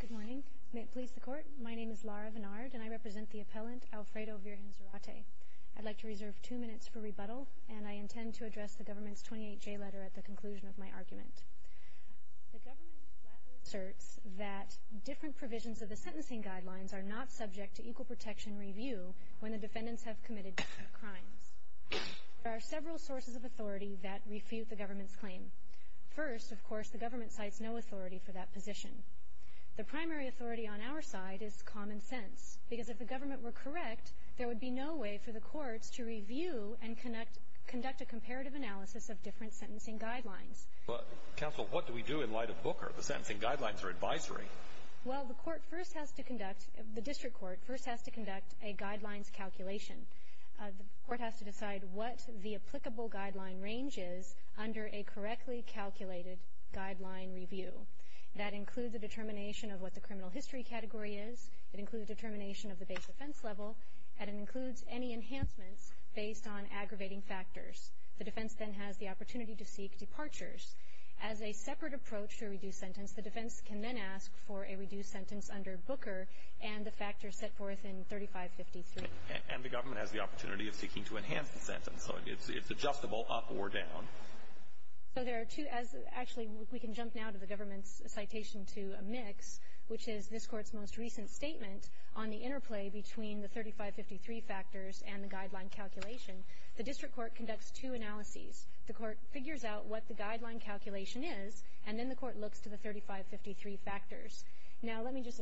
Good morning. May it please the Court, my name is Lara Vennard and I represent the appellant Alfredo Virgen-Zarate. I'd like to reserve two minutes for rebuttal and I intend to address the government's 28-J letter at the conclusion of my argument. The government flatly asserts that different provisions of the sentencing guidelines are not subject to equal protection review when the defendants have committed different crimes. There are several sources of authority that refute the government's claim. First, of course, the government cites no authority for that position. The primary authority on our side is common sense, because if the government were correct, there would be no way for the courts to review and conduct a comparative analysis of different sentencing guidelines. Counsel, what do we do in light of Booker? The sentencing guidelines are advisory. Well, the court first has to conduct, the district court first has to conduct a guidelines calculation. The court has to decide what the applicable guideline range is under a correctly calculated guideline review. That includes a determination of what the criminal history category is. It includes a determination of the base defense level. And it includes any enhancements based on aggravating factors. The defense then has the opportunity to seek departures. As a separate approach to a reduced sentence, the defense can then ask for a reduced sentence under Booker and the factors set forth in 3553. And the government has the opportunity of seeking to enhance the sentence. So it's adjustable up or down. So there are two. Actually, we can jump now to the government's citation to a mix, which is this Court's most recent statement on the interplay between the 3553 factors and the guideline calculation. The district court conducts two analyses. The court figures out what the guideline calculation is, and then the court looks to the 3553 factors. Now, let me just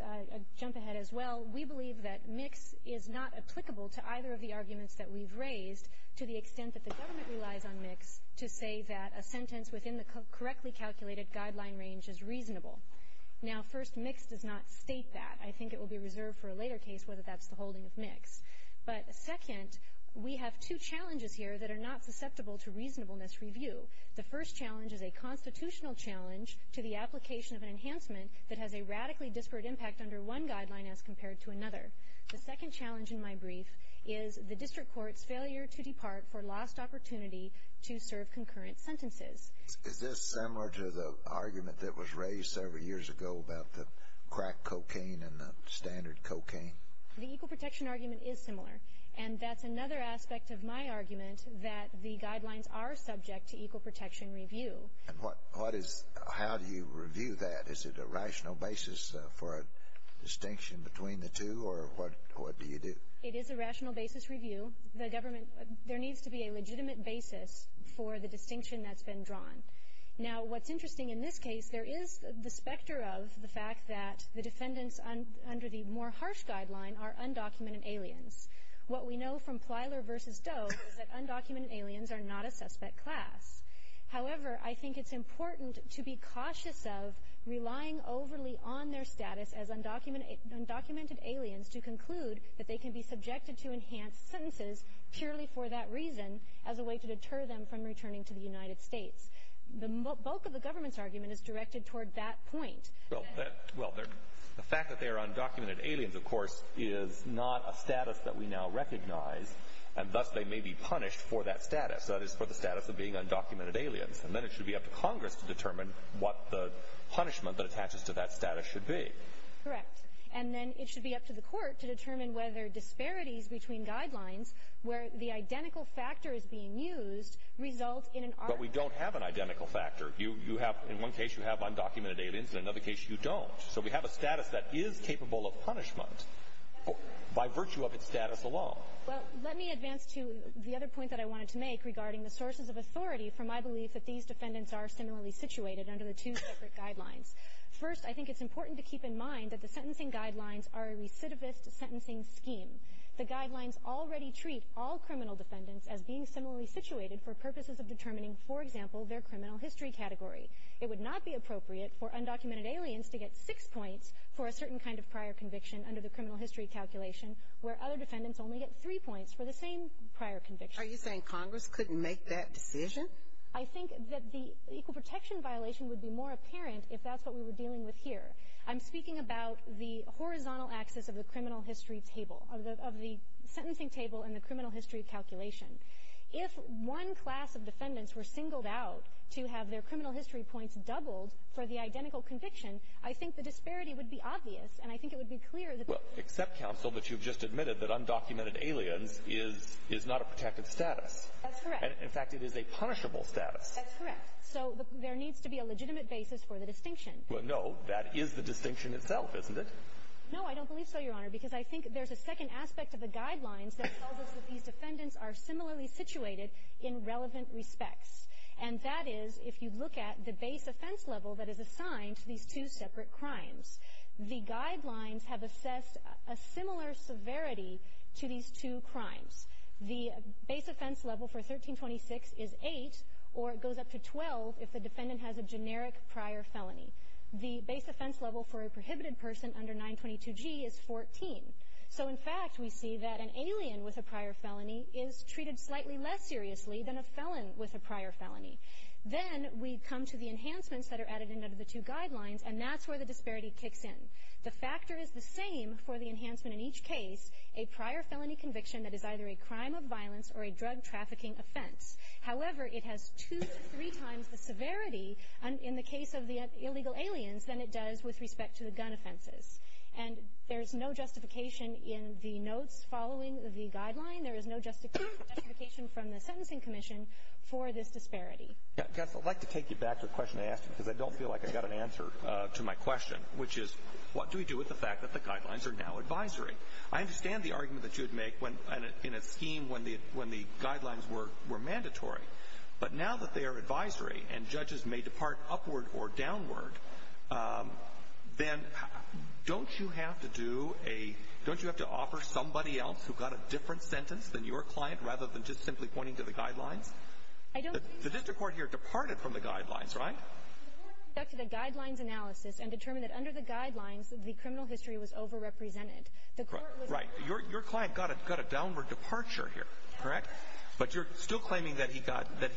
jump ahead as well. We believe that mix is not applicable to either of the arguments that we've raised to the extent that the government relies on mix to say that a sentence within the correctly calculated guideline range is reasonable. Now, first, mix does not state that. I think it will be reserved for a later case whether that's the holding of mix. But second, we have two challenges here that are not susceptible to reasonableness review. The first challenge is a constitutional challenge to the application of an enhancement that has a radically disparate impact under one guideline as compared to another. The second challenge in my brief is the district court's failure to depart for lost opportunity to serve concurrent sentences. Is this similar to the argument that was raised several years ago about the crack cocaine and the standard cocaine? The equal protection argument is similar. And that's another aspect of my argument, that the guidelines are subject to equal protection review. And what is – how do you review that? Is it a rational basis for a distinction between the two, or what do you do? It is a rational basis review. The government – there needs to be a legitimate basis for the distinction that's been drawn. Now, what's interesting in this case, there is the specter of the fact that the defendants under the more harsh guideline are undocumented aliens. What we know from Plyler v. Doe is that undocumented aliens are not a suspect class. However, I think it's important to be cautious of relying overly on their status as undocumented aliens to conclude that they can be subjected to enhanced sentences purely for that reason as a way to deter them from returning to the United States. The bulk of the government's argument is directed toward that point. Well, that – well, the fact that they are undocumented aliens, of course, is not a status that we now recognize, and thus they may be punished for that status. That is, for the status of being undocumented aliens. And then it should be up to Congress to determine what the punishment that attaches to that status should be. Correct. And then it should be up to the court to determine whether disparities between guidelines, where the identical factor is being used, result in an argument. But we don't have an identical factor. You have – in one case you have undocumented aliens, in another case you don't. So we have a status that is capable of punishment by virtue of its status alone. Well, let me advance to the other point that I wanted to make regarding the sources of authority for my belief that these defendants are similarly situated under the two separate guidelines. First, I think it's important to keep in mind that the sentencing guidelines are a recidivist sentencing scheme. The guidelines already treat all criminal defendants as being similarly situated for purposes of determining, for example, their criminal history category. It would not be appropriate for undocumented aliens to get six points for a certain kind of prior conviction under the criminal history calculation, where other defendants only get three points for the same prior conviction. Are you saying Congress couldn't make that decision? I think that the equal protection violation would be more apparent if that's what we were dealing with here. I'm speaking about the horizontal axis of the criminal history table, of the sentencing table and the criminal history calculation. If one class of defendants were singled out to have their criminal history points doubled for the identical conviction, I think the disparity would be obvious, and I think it would be clear that Well, except counsel that you've just admitted that undocumented aliens is not a protected status. That's correct. In fact, it is a punishable status. That's correct. So there needs to be a legitimate basis for the distinction. Well, no, that is the distinction itself, isn't it? No, I don't believe so, Your Honor, because I think there's a second aspect of the guidelines that tells us that these defendants are similarly situated in relevant respects. And that is, if you look at the base offense level that is assigned to these two separate crimes, the guidelines have assessed a similar severity to these two crimes. The base offense level for 1326 is 8, or it goes up to 12 if the defendant has a generic prior felony. The base offense level for a prohibited person under 922G is 14. So, in fact, we see that an alien with a prior felony is treated slightly less seriously than a felon with a prior felony. Then we come to the enhancements that are added in under the two guidelines, and that's where the disparity kicks in. The factor is the same for the enhancement in each case, a prior felony conviction that is either a crime of violence or a drug trafficking offense. However, it has two to three times the severity in the case of the illegal aliens than it does with respect to the gun offenses. And there's no justification in the notes following the guideline. There is no justification from the Sentencing Commission for this disparity. Yes, I'd like to take you back to a question I asked you, because I don't feel like I got an answer to my question, which is what do we do with the fact that the guidelines are now advisory? I understand the argument that you would make in a scheme when the guidelines were mandatory. But now that they are advisory and judges may depart upward or downward, then don't you have to do a – don't you have to offer somebody else who got a different sentence than your client rather than just simply pointing to the guidelines? The district court here departed from the guidelines, right? I want to go back to the guidelines analysis and determine that under the guidelines, the criminal history was overrepresented. Right. Your client got a downward departure here, correct? But you're still claiming that he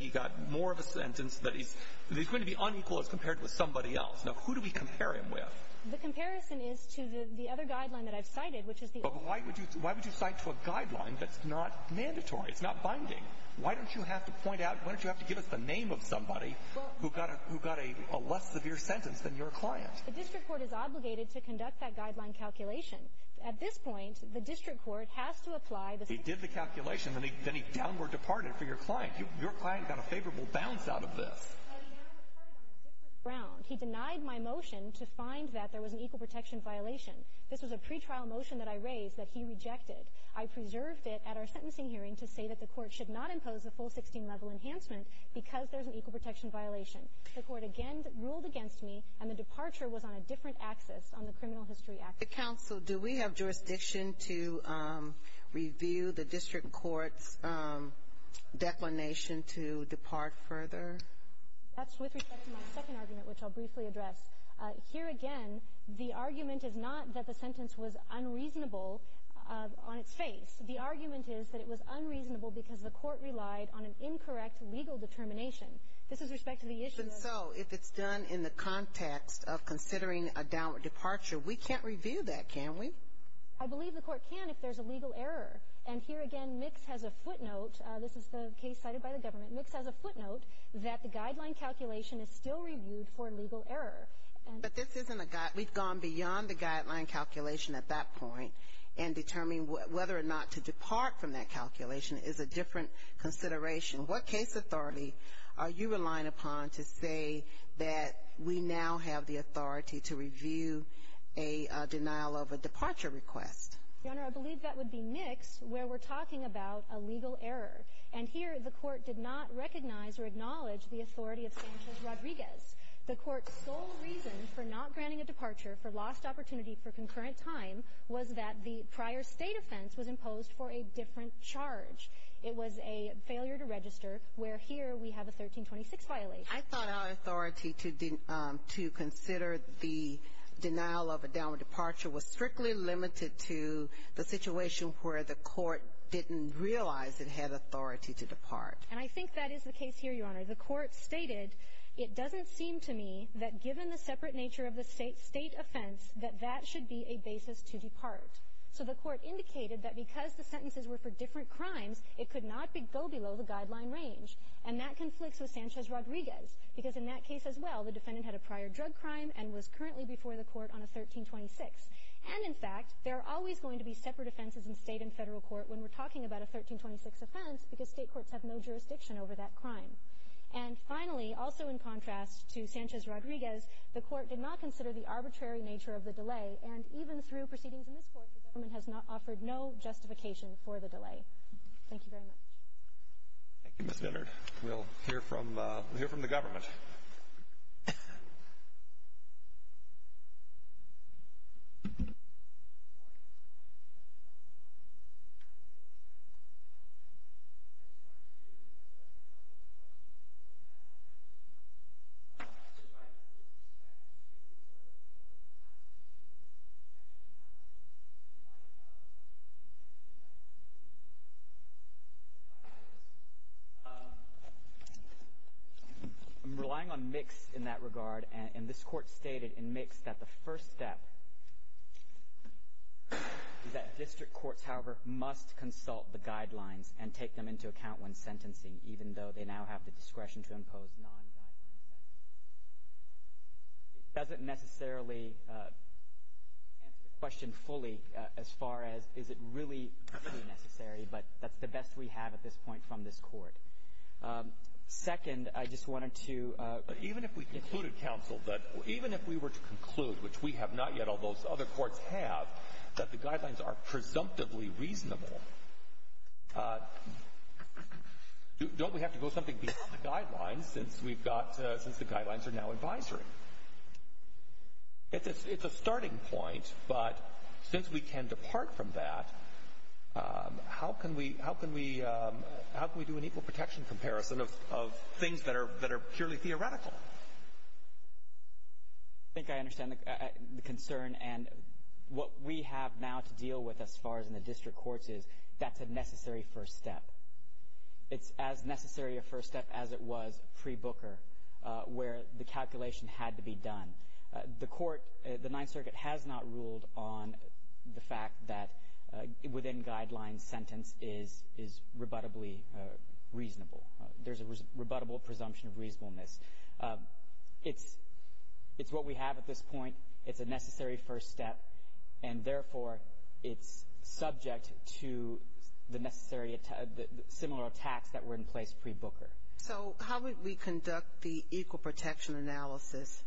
got more of a sentence, that he's going to be unequal as compared to somebody else. Now, who do we compare him with? The comparison is to the other guideline that I've cited, which is the – But why would you cite to a guideline that's not mandatory? It's not binding. Why don't you have to point out – why don't you have to give us the name of somebody who got a less severe sentence than your client? The district court is obligated to conduct that guideline calculation. At this point, the district court has to apply the – He did the calculation, then he downward departed for your client. Your client got a favorable bounce out of this. Well, he down departed on a different ground. He denied my motion to find that there was an equal protection violation. This was a pretrial motion that I raised that he rejected. I preserved it at our sentencing hearing to say that the court should not impose a full 16-level enhancement because there's an equal protection violation. The court, again, ruled against me, and the departure was on a different axis on the criminal history aspect. Mr. Counsel, do we have jurisdiction to review the district court's declination to depart further? That's with respect to my second argument, which I'll briefly address. Here again, the argument is not that the sentence was unreasonable on its face. The argument is that it was unreasonable because the court relied on an incorrect legal determination. This is respect to the issue of – Even so, if it's done in the context of considering a downward departure, we can't review that, can we? I believe the court can if there's a legal error. And here again, Mix has a footnote. This is the case cited by the government. Mix has a footnote that the guideline calculation is still reviewed for legal error. But this isn't a – we've gone beyond the guideline calculation at that point in determining whether or not to depart from that calculation is a different consideration. What case authority are you relying upon to say that we now have the authority to review a denial of a departure request? Your Honor, I believe that would be Mix, where we're talking about a legal error. And here, the court did not recognize or acknowledge the authority of Sanchez-Rodriguez. The court's sole reason for not granting a departure for lost opportunity for concurrent time was that the prior State offense was imposed for a different charge. It was a failure to register, where here we have a 1326 violation. I thought our authority to consider the denial of a downward departure was strictly limited to the situation where the court didn't realize it had authority to depart. And I think that is the case here, Your Honor. The court stated, it doesn't seem to me that given the separate nature of the State offense that that should be a basis to depart. So the court indicated that because the sentences were for different crimes, it could not go below the guideline range. And that conflicts with Sanchez-Rodriguez, because in that case as well, the defendant had a prior drug crime and was currently before the court on a 1326. And in fact, there are always going to be separate offenses in State and Federal court when we're talking about a 1326 offense, because State courts have no jurisdiction over that crime. And finally, also in contrast to Sanchez-Rodriguez, the court did not consider the arbitrary nature of the delay. And even through proceedings in this court, the government has not offered no justification for the delay. Thank you very much. Thank you, Mr. Leonard. We'll hear from the government. I'm relying on Mix in that regard. And this court stated in Mix that the first step is that district courts, however, must consult the guidelines and take them into account when sentencing, even though they now have the discretion to impose non-guideline sentences. It doesn't necessarily answer the question fully as far as is it really necessary, but that's the best we have at this point from this court. Second, I just wanted to ---- Even if we concluded, counsel, that even if we were to conclude, which we have not yet, although other courts have, that the guidelines are presumptively reasonable, don't we have to go something beyond the guidelines since we've got to ---- since the guidelines are now advisory? It's a starting point, but since we can depart from that, how can we do an equal protection comparison of things that are purely theoretical? I think I understand the concern. And what we have now to deal with as far as in the district courts is that's a necessary first step. It's as necessary a first step as it was pre-Booker, where the calculation had to be done. The court, the Ninth Circuit, has not ruled on the fact that within guidelines sentence is rebuttably reasonable. There's a rebuttable presumption of reasonableness. It's what we have at this point. It's a necessary first step. And, therefore, it's subject to the necessary similar attacks that were in place pre-Booker. So how would we conduct the equal protection analysis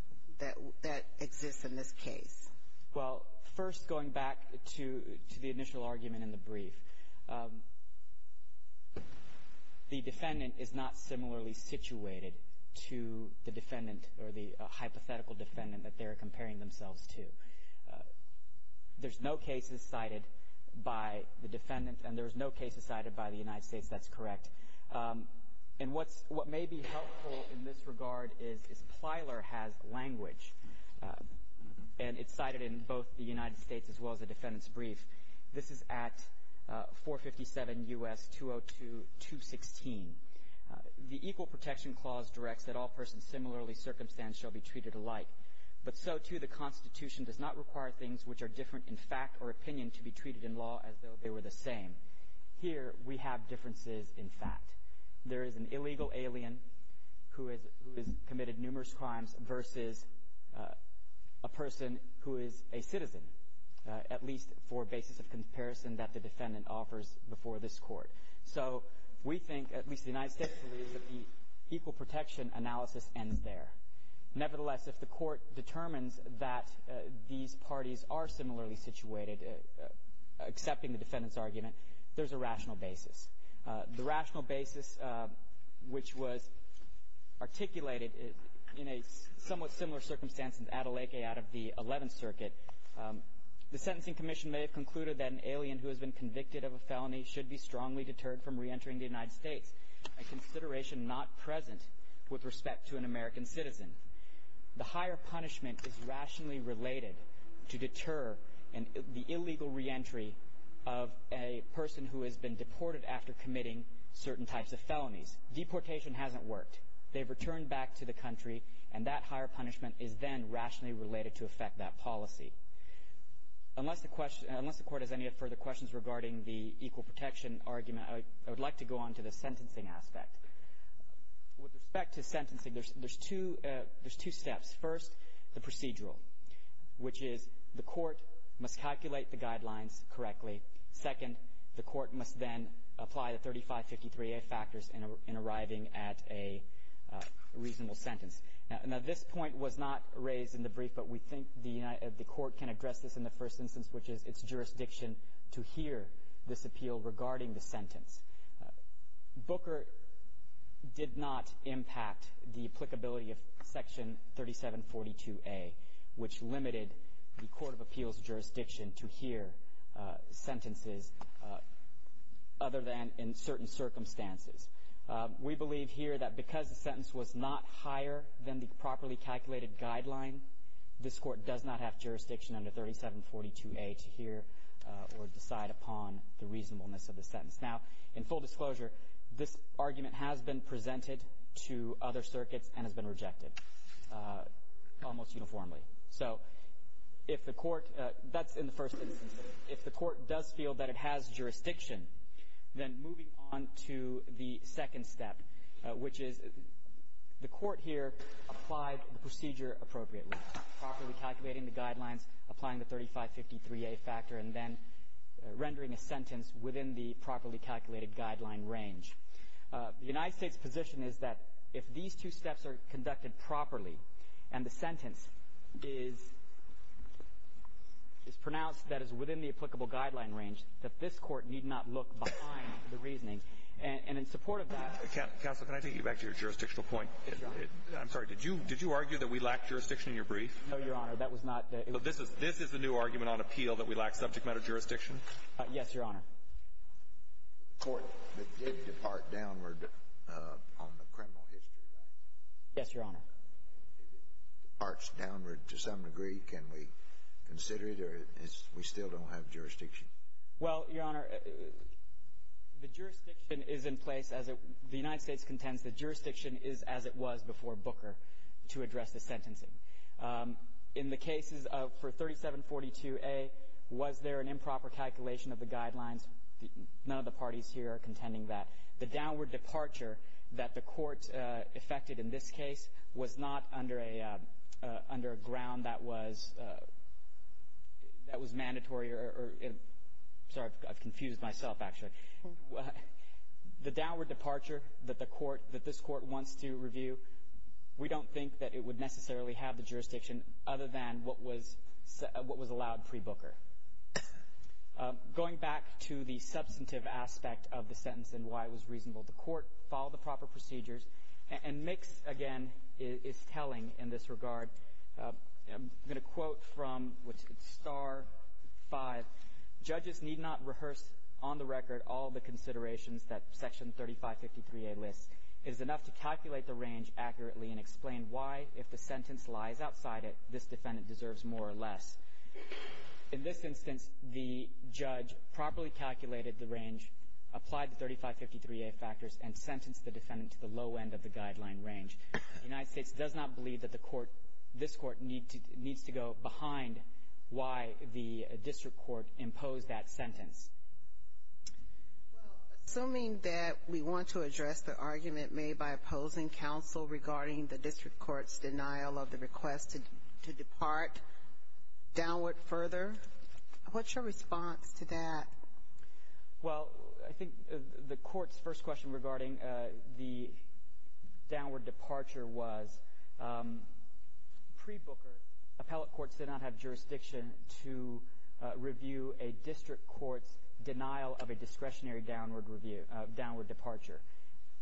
that exists in this case? Well, first going back to the initial argument in the brief, the defendant is not similarly situated to the defendant or the hypothetical defendant that they're comparing themselves to. There's no cases cited by the defendant, and there's no cases cited by the United States. That's correct. And what may be helpful in this regard is Plyler has language, and it's cited in both the United States as well as the defendant's brief. This is at 457 U.S. 202-216. The equal protection clause directs that all persons similarly circumstantial be treated alike. But so, too, the Constitution does not require things which are different in fact or opinion to be treated in law as though they were the same. Here we have differences in fact. There is an illegal alien who has committed numerous crimes versus a person who is a citizen, at least for basis of comparison that the defendant offers before this court. So we think, at least the United States believes, that the equal protection analysis ends there. Nevertheless, if the court determines that these parties are similarly situated, accepting the defendant's argument, there's a rational basis. The rational basis, which was articulated in a somewhat similar circumstance in Adelaide out of the Eleventh Circuit, the Sentencing Commission may have concluded that an alien who has been convicted of a felony should be strongly deterred from reentering the United States, a consideration not present with respect to an American citizen. The higher punishment is rationally related to deter the illegal reentry of a person who has been deported after committing certain types of felonies. Deportation hasn't worked. They've returned back to the country, and that higher punishment is then rationally related to affect that policy. Unless the court has any further questions regarding the equal protection argument, I would like to go on to the sentencing aspect. With respect to sentencing, there's two steps. First, the procedural, which is the court must calculate the guidelines correctly. Second, the court must then apply the 3553A factors in arriving at a reasonable sentence. Now, this point was not raised in the brief, but we think the court can address this in the first instance, which is its jurisdiction to hear this appeal regarding the sentence. Booker did not impact the applicability of Section 3742A, which limited the court of appeals jurisdiction to hear sentences other than in certain circumstances. We believe here that because the sentence was not higher than the properly calculated guideline, this court does not have jurisdiction under 3742A to hear or decide upon the reasonableness of the sentence. Now, in full disclosure, this argument has been presented to other circuits and has been rejected almost uniformly. So if the court does feel that it has jurisdiction, then moving on to the second step, which is the court here applied the procedure appropriately, properly calculating the guidelines, applying the 3553A factor, and then rendering a reasonably calculated guideline range. The United States position is that if these two steps are conducted properly and the sentence is pronounced that is within the applicable guideline range, that this court need not look behind the reasoning. And in support of that… Counsel, can I take you back to your jurisdictional point? I'm sorry. Did you argue that we lack jurisdiction in your brief? No, Your Honor. That was not the… This is the new argument on appeal that we lack subject matter jurisdiction? Yes, Your Honor. The court did depart downward on the criminal history, right? Yes, Your Honor. If it departs downward to some degree, can we consider it or we still don't have jurisdiction? Well, Your Honor, the jurisdiction is in place as… The United States contends the jurisdiction is as it was before Booker to address the sentencing. In the cases for 3742A, was there an improper calculation of the guidelines? None of the parties here are contending that. The downward departure that the court effected in this case was not under a ground that was mandatory or… Sorry, I've confused myself, actually. The downward departure that this court wants to review, we don't think that it would necessarily have the jurisdiction other than what was allowed pre-Booker. Going back to the substantive aspect of the sentence and why it was reasonable, the court followed the proper procedures. And Mix, again, is telling in this regard. I'm going to quote from Star 5. Judges need not rehearse on the record all the considerations that Section 3553A lists. It is enough to calculate the range accurately and explain why, if the sentence lies outside it, this defendant deserves more or less. In this instance, the judge properly calculated the range, applied the 3553A factors, and sentenced the defendant to the low end of the guideline range. The United States does not believe that the court, this court, needs to go behind why the district court imposed that sentence. Well, assuming that we want to address the argument made by opposing counsel regarding the district court's denial of the request to depart downward further, what's your response to that? Well, I think the court's first question regarding the downward departure was, pre-Booker, appellate courts did not have jurisdiction to review a district court's denial of a discretionary downward departure.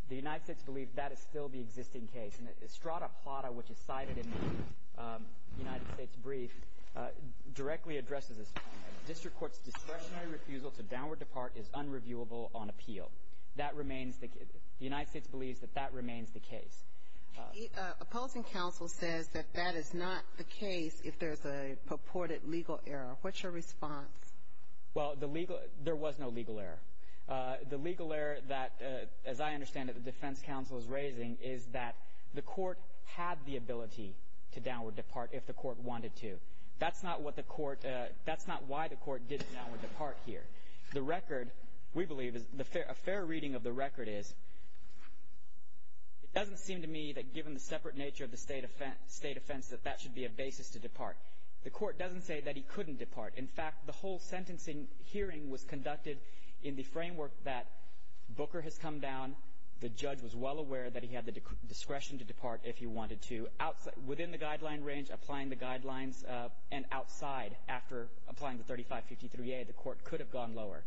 The United States believes that is still the existing case. And Estrada Plata, which is cited in the United States brief, directly addresses this point. A district court's discretionary refusal to downward depart is unreviewable on appeal. The United States believes that that remains the case. Opposing counsel says that that is not the case if there's a purported legal error. What's your response? Well, there was no legal error. The legal error that, as I understand it, the defense counsel is raising is that the court had the ability to downward depart if the court wanted to. That's not why the court did a downward depart here. The record, we believe, a fair reading of the record is, it doesn't seem to me that given the separate nature of the state offense that that should be a basis to depart. The court doesn't say that he couldn't depart. In fact, the whole sentencing hearing was conducted in the framework that Booker has come down. The judge was well aware that he had the discretion to depart if he wanted to. Within the guideline range, applying the guidelines, and outside after applying the 3553A, the court could have gone lower.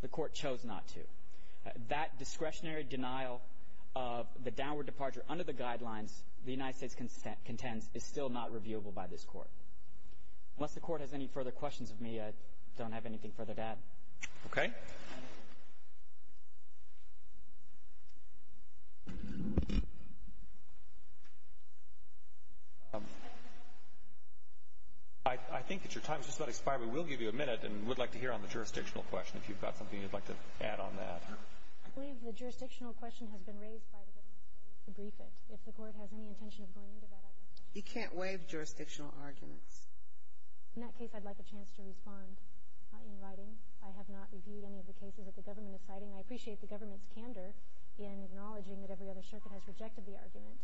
The court chose not to. That discretionary denial of the downward departure under the guidelines the Unless the court has any further questions of me, I don't have anything further to add. Okay. I think that your time has just about expired. We will give you a minute, and we'd like to hear on the jurisdictional question if you've got something you'd like to add on that. I believe the jurisdictional question has been raised by the defense counsel to brief it. You can't waive jurisdictional arguments. In that case, I'd like a chance to respond in writing. I have not reviewed any of the cases that the government is citing. I appreciate the government's candor in acknowledging that every other circuit has rejected the argument.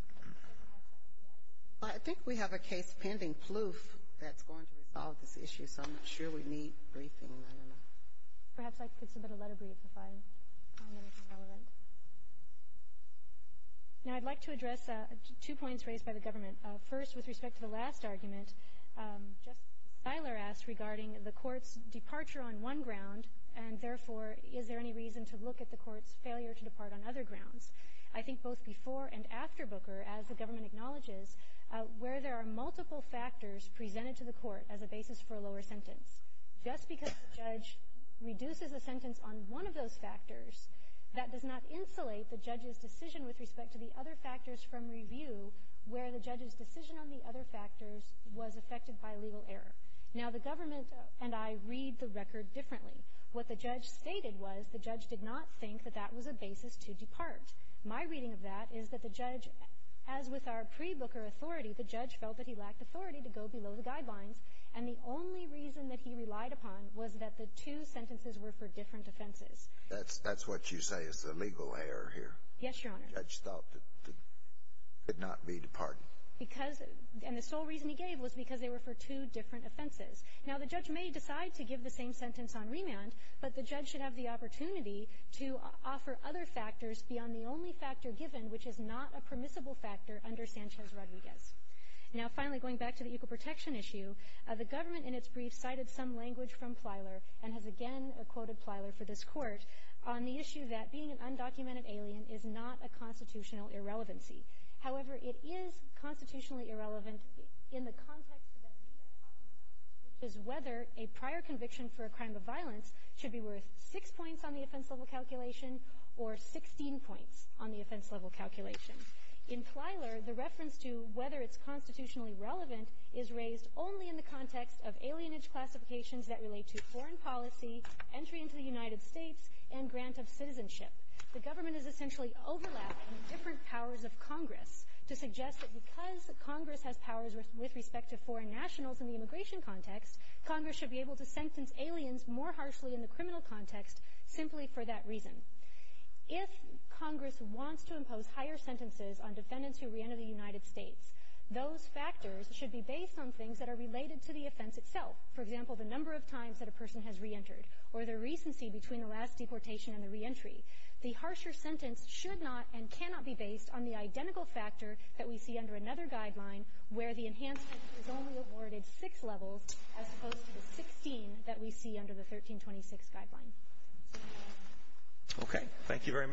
I think we have a case pending, Plouffe, that's going to resolve this issue, so I'm not sure we need briefing. Perhaps I could submit a letter brief if I find anything relevant. Now, I'd like to address two points raised by the government. First, with respect to the last argument, Justice Siler asked regarding the court's departure on one ground, and therefore, is there any reason to look at the court's failure to depart on other grounds? I think both before and after Booker, as the government acknowledges, where there are multiple factors presented to the court as a basis for a lower sentence. Just because the judge reduces a sentence on one of those factors, that does not insulate the judge's decision with respect to the other factors from review where the judge's decision on the other factors was affected by legal error. Now, the government and I read the record differently. What the judge stated was the judge did not think that that was a basis to depart. My reading of that is that the judge, as with our pre-Booker authority, the judge felt that he lacked authority to go below the guidelines, and the only reason that he relied upon was that the two sentences were for different offenses. That's what you say is the legal error here. Yes, Your Honor. The judge felt that it could not be departed. Because the sole reason he gave was because they were for two different offenses. Now, the judge may decide to give the same sentence on remand, but the judge should have the opportunity to offer other factors beyond the only factor given, which is not a permissible factor under Sanchez-Rodriguez. Now, finally, going back to the equal protection issue, the government in its brief cited some language from Plyler and has again quoted Plyler for this court on the issue that being an undocumented alien is not a constitutional irrelevancy. However, it is constitutionally irrelevant in the context that we are talking about, which is whether a prior conviction for a crime of violence should be worth six points on the offense-level calculation or 16 points on the offense-level calculation. In Plyler, the reference to whether it's constitutionally relevant is raised only in the context of alienage classifications that relate to foreign policy, entry into the United States, and grant of citizenship. The government is essentially overlapping different powers of Congress to suggest that because Congress has powers with respect to foreign nationals in the immigration context, Congress should be able to sentence aliens more harshly in the criminal context simply for that reason. If Congress wants to impose higher sentences on defendants who re-enter the United States, those factors should be based on things that are related to the offense itself, for example, the number of times that a person has re-entered or the recency between the last deportation and the reentry. The harsher sentence should not and cannot be based on the identical factor that we see under another guideline where the enhancement is only awarded six levels as opposed to the 16 that we see under the 1326 guideline. Okay, thank you very much.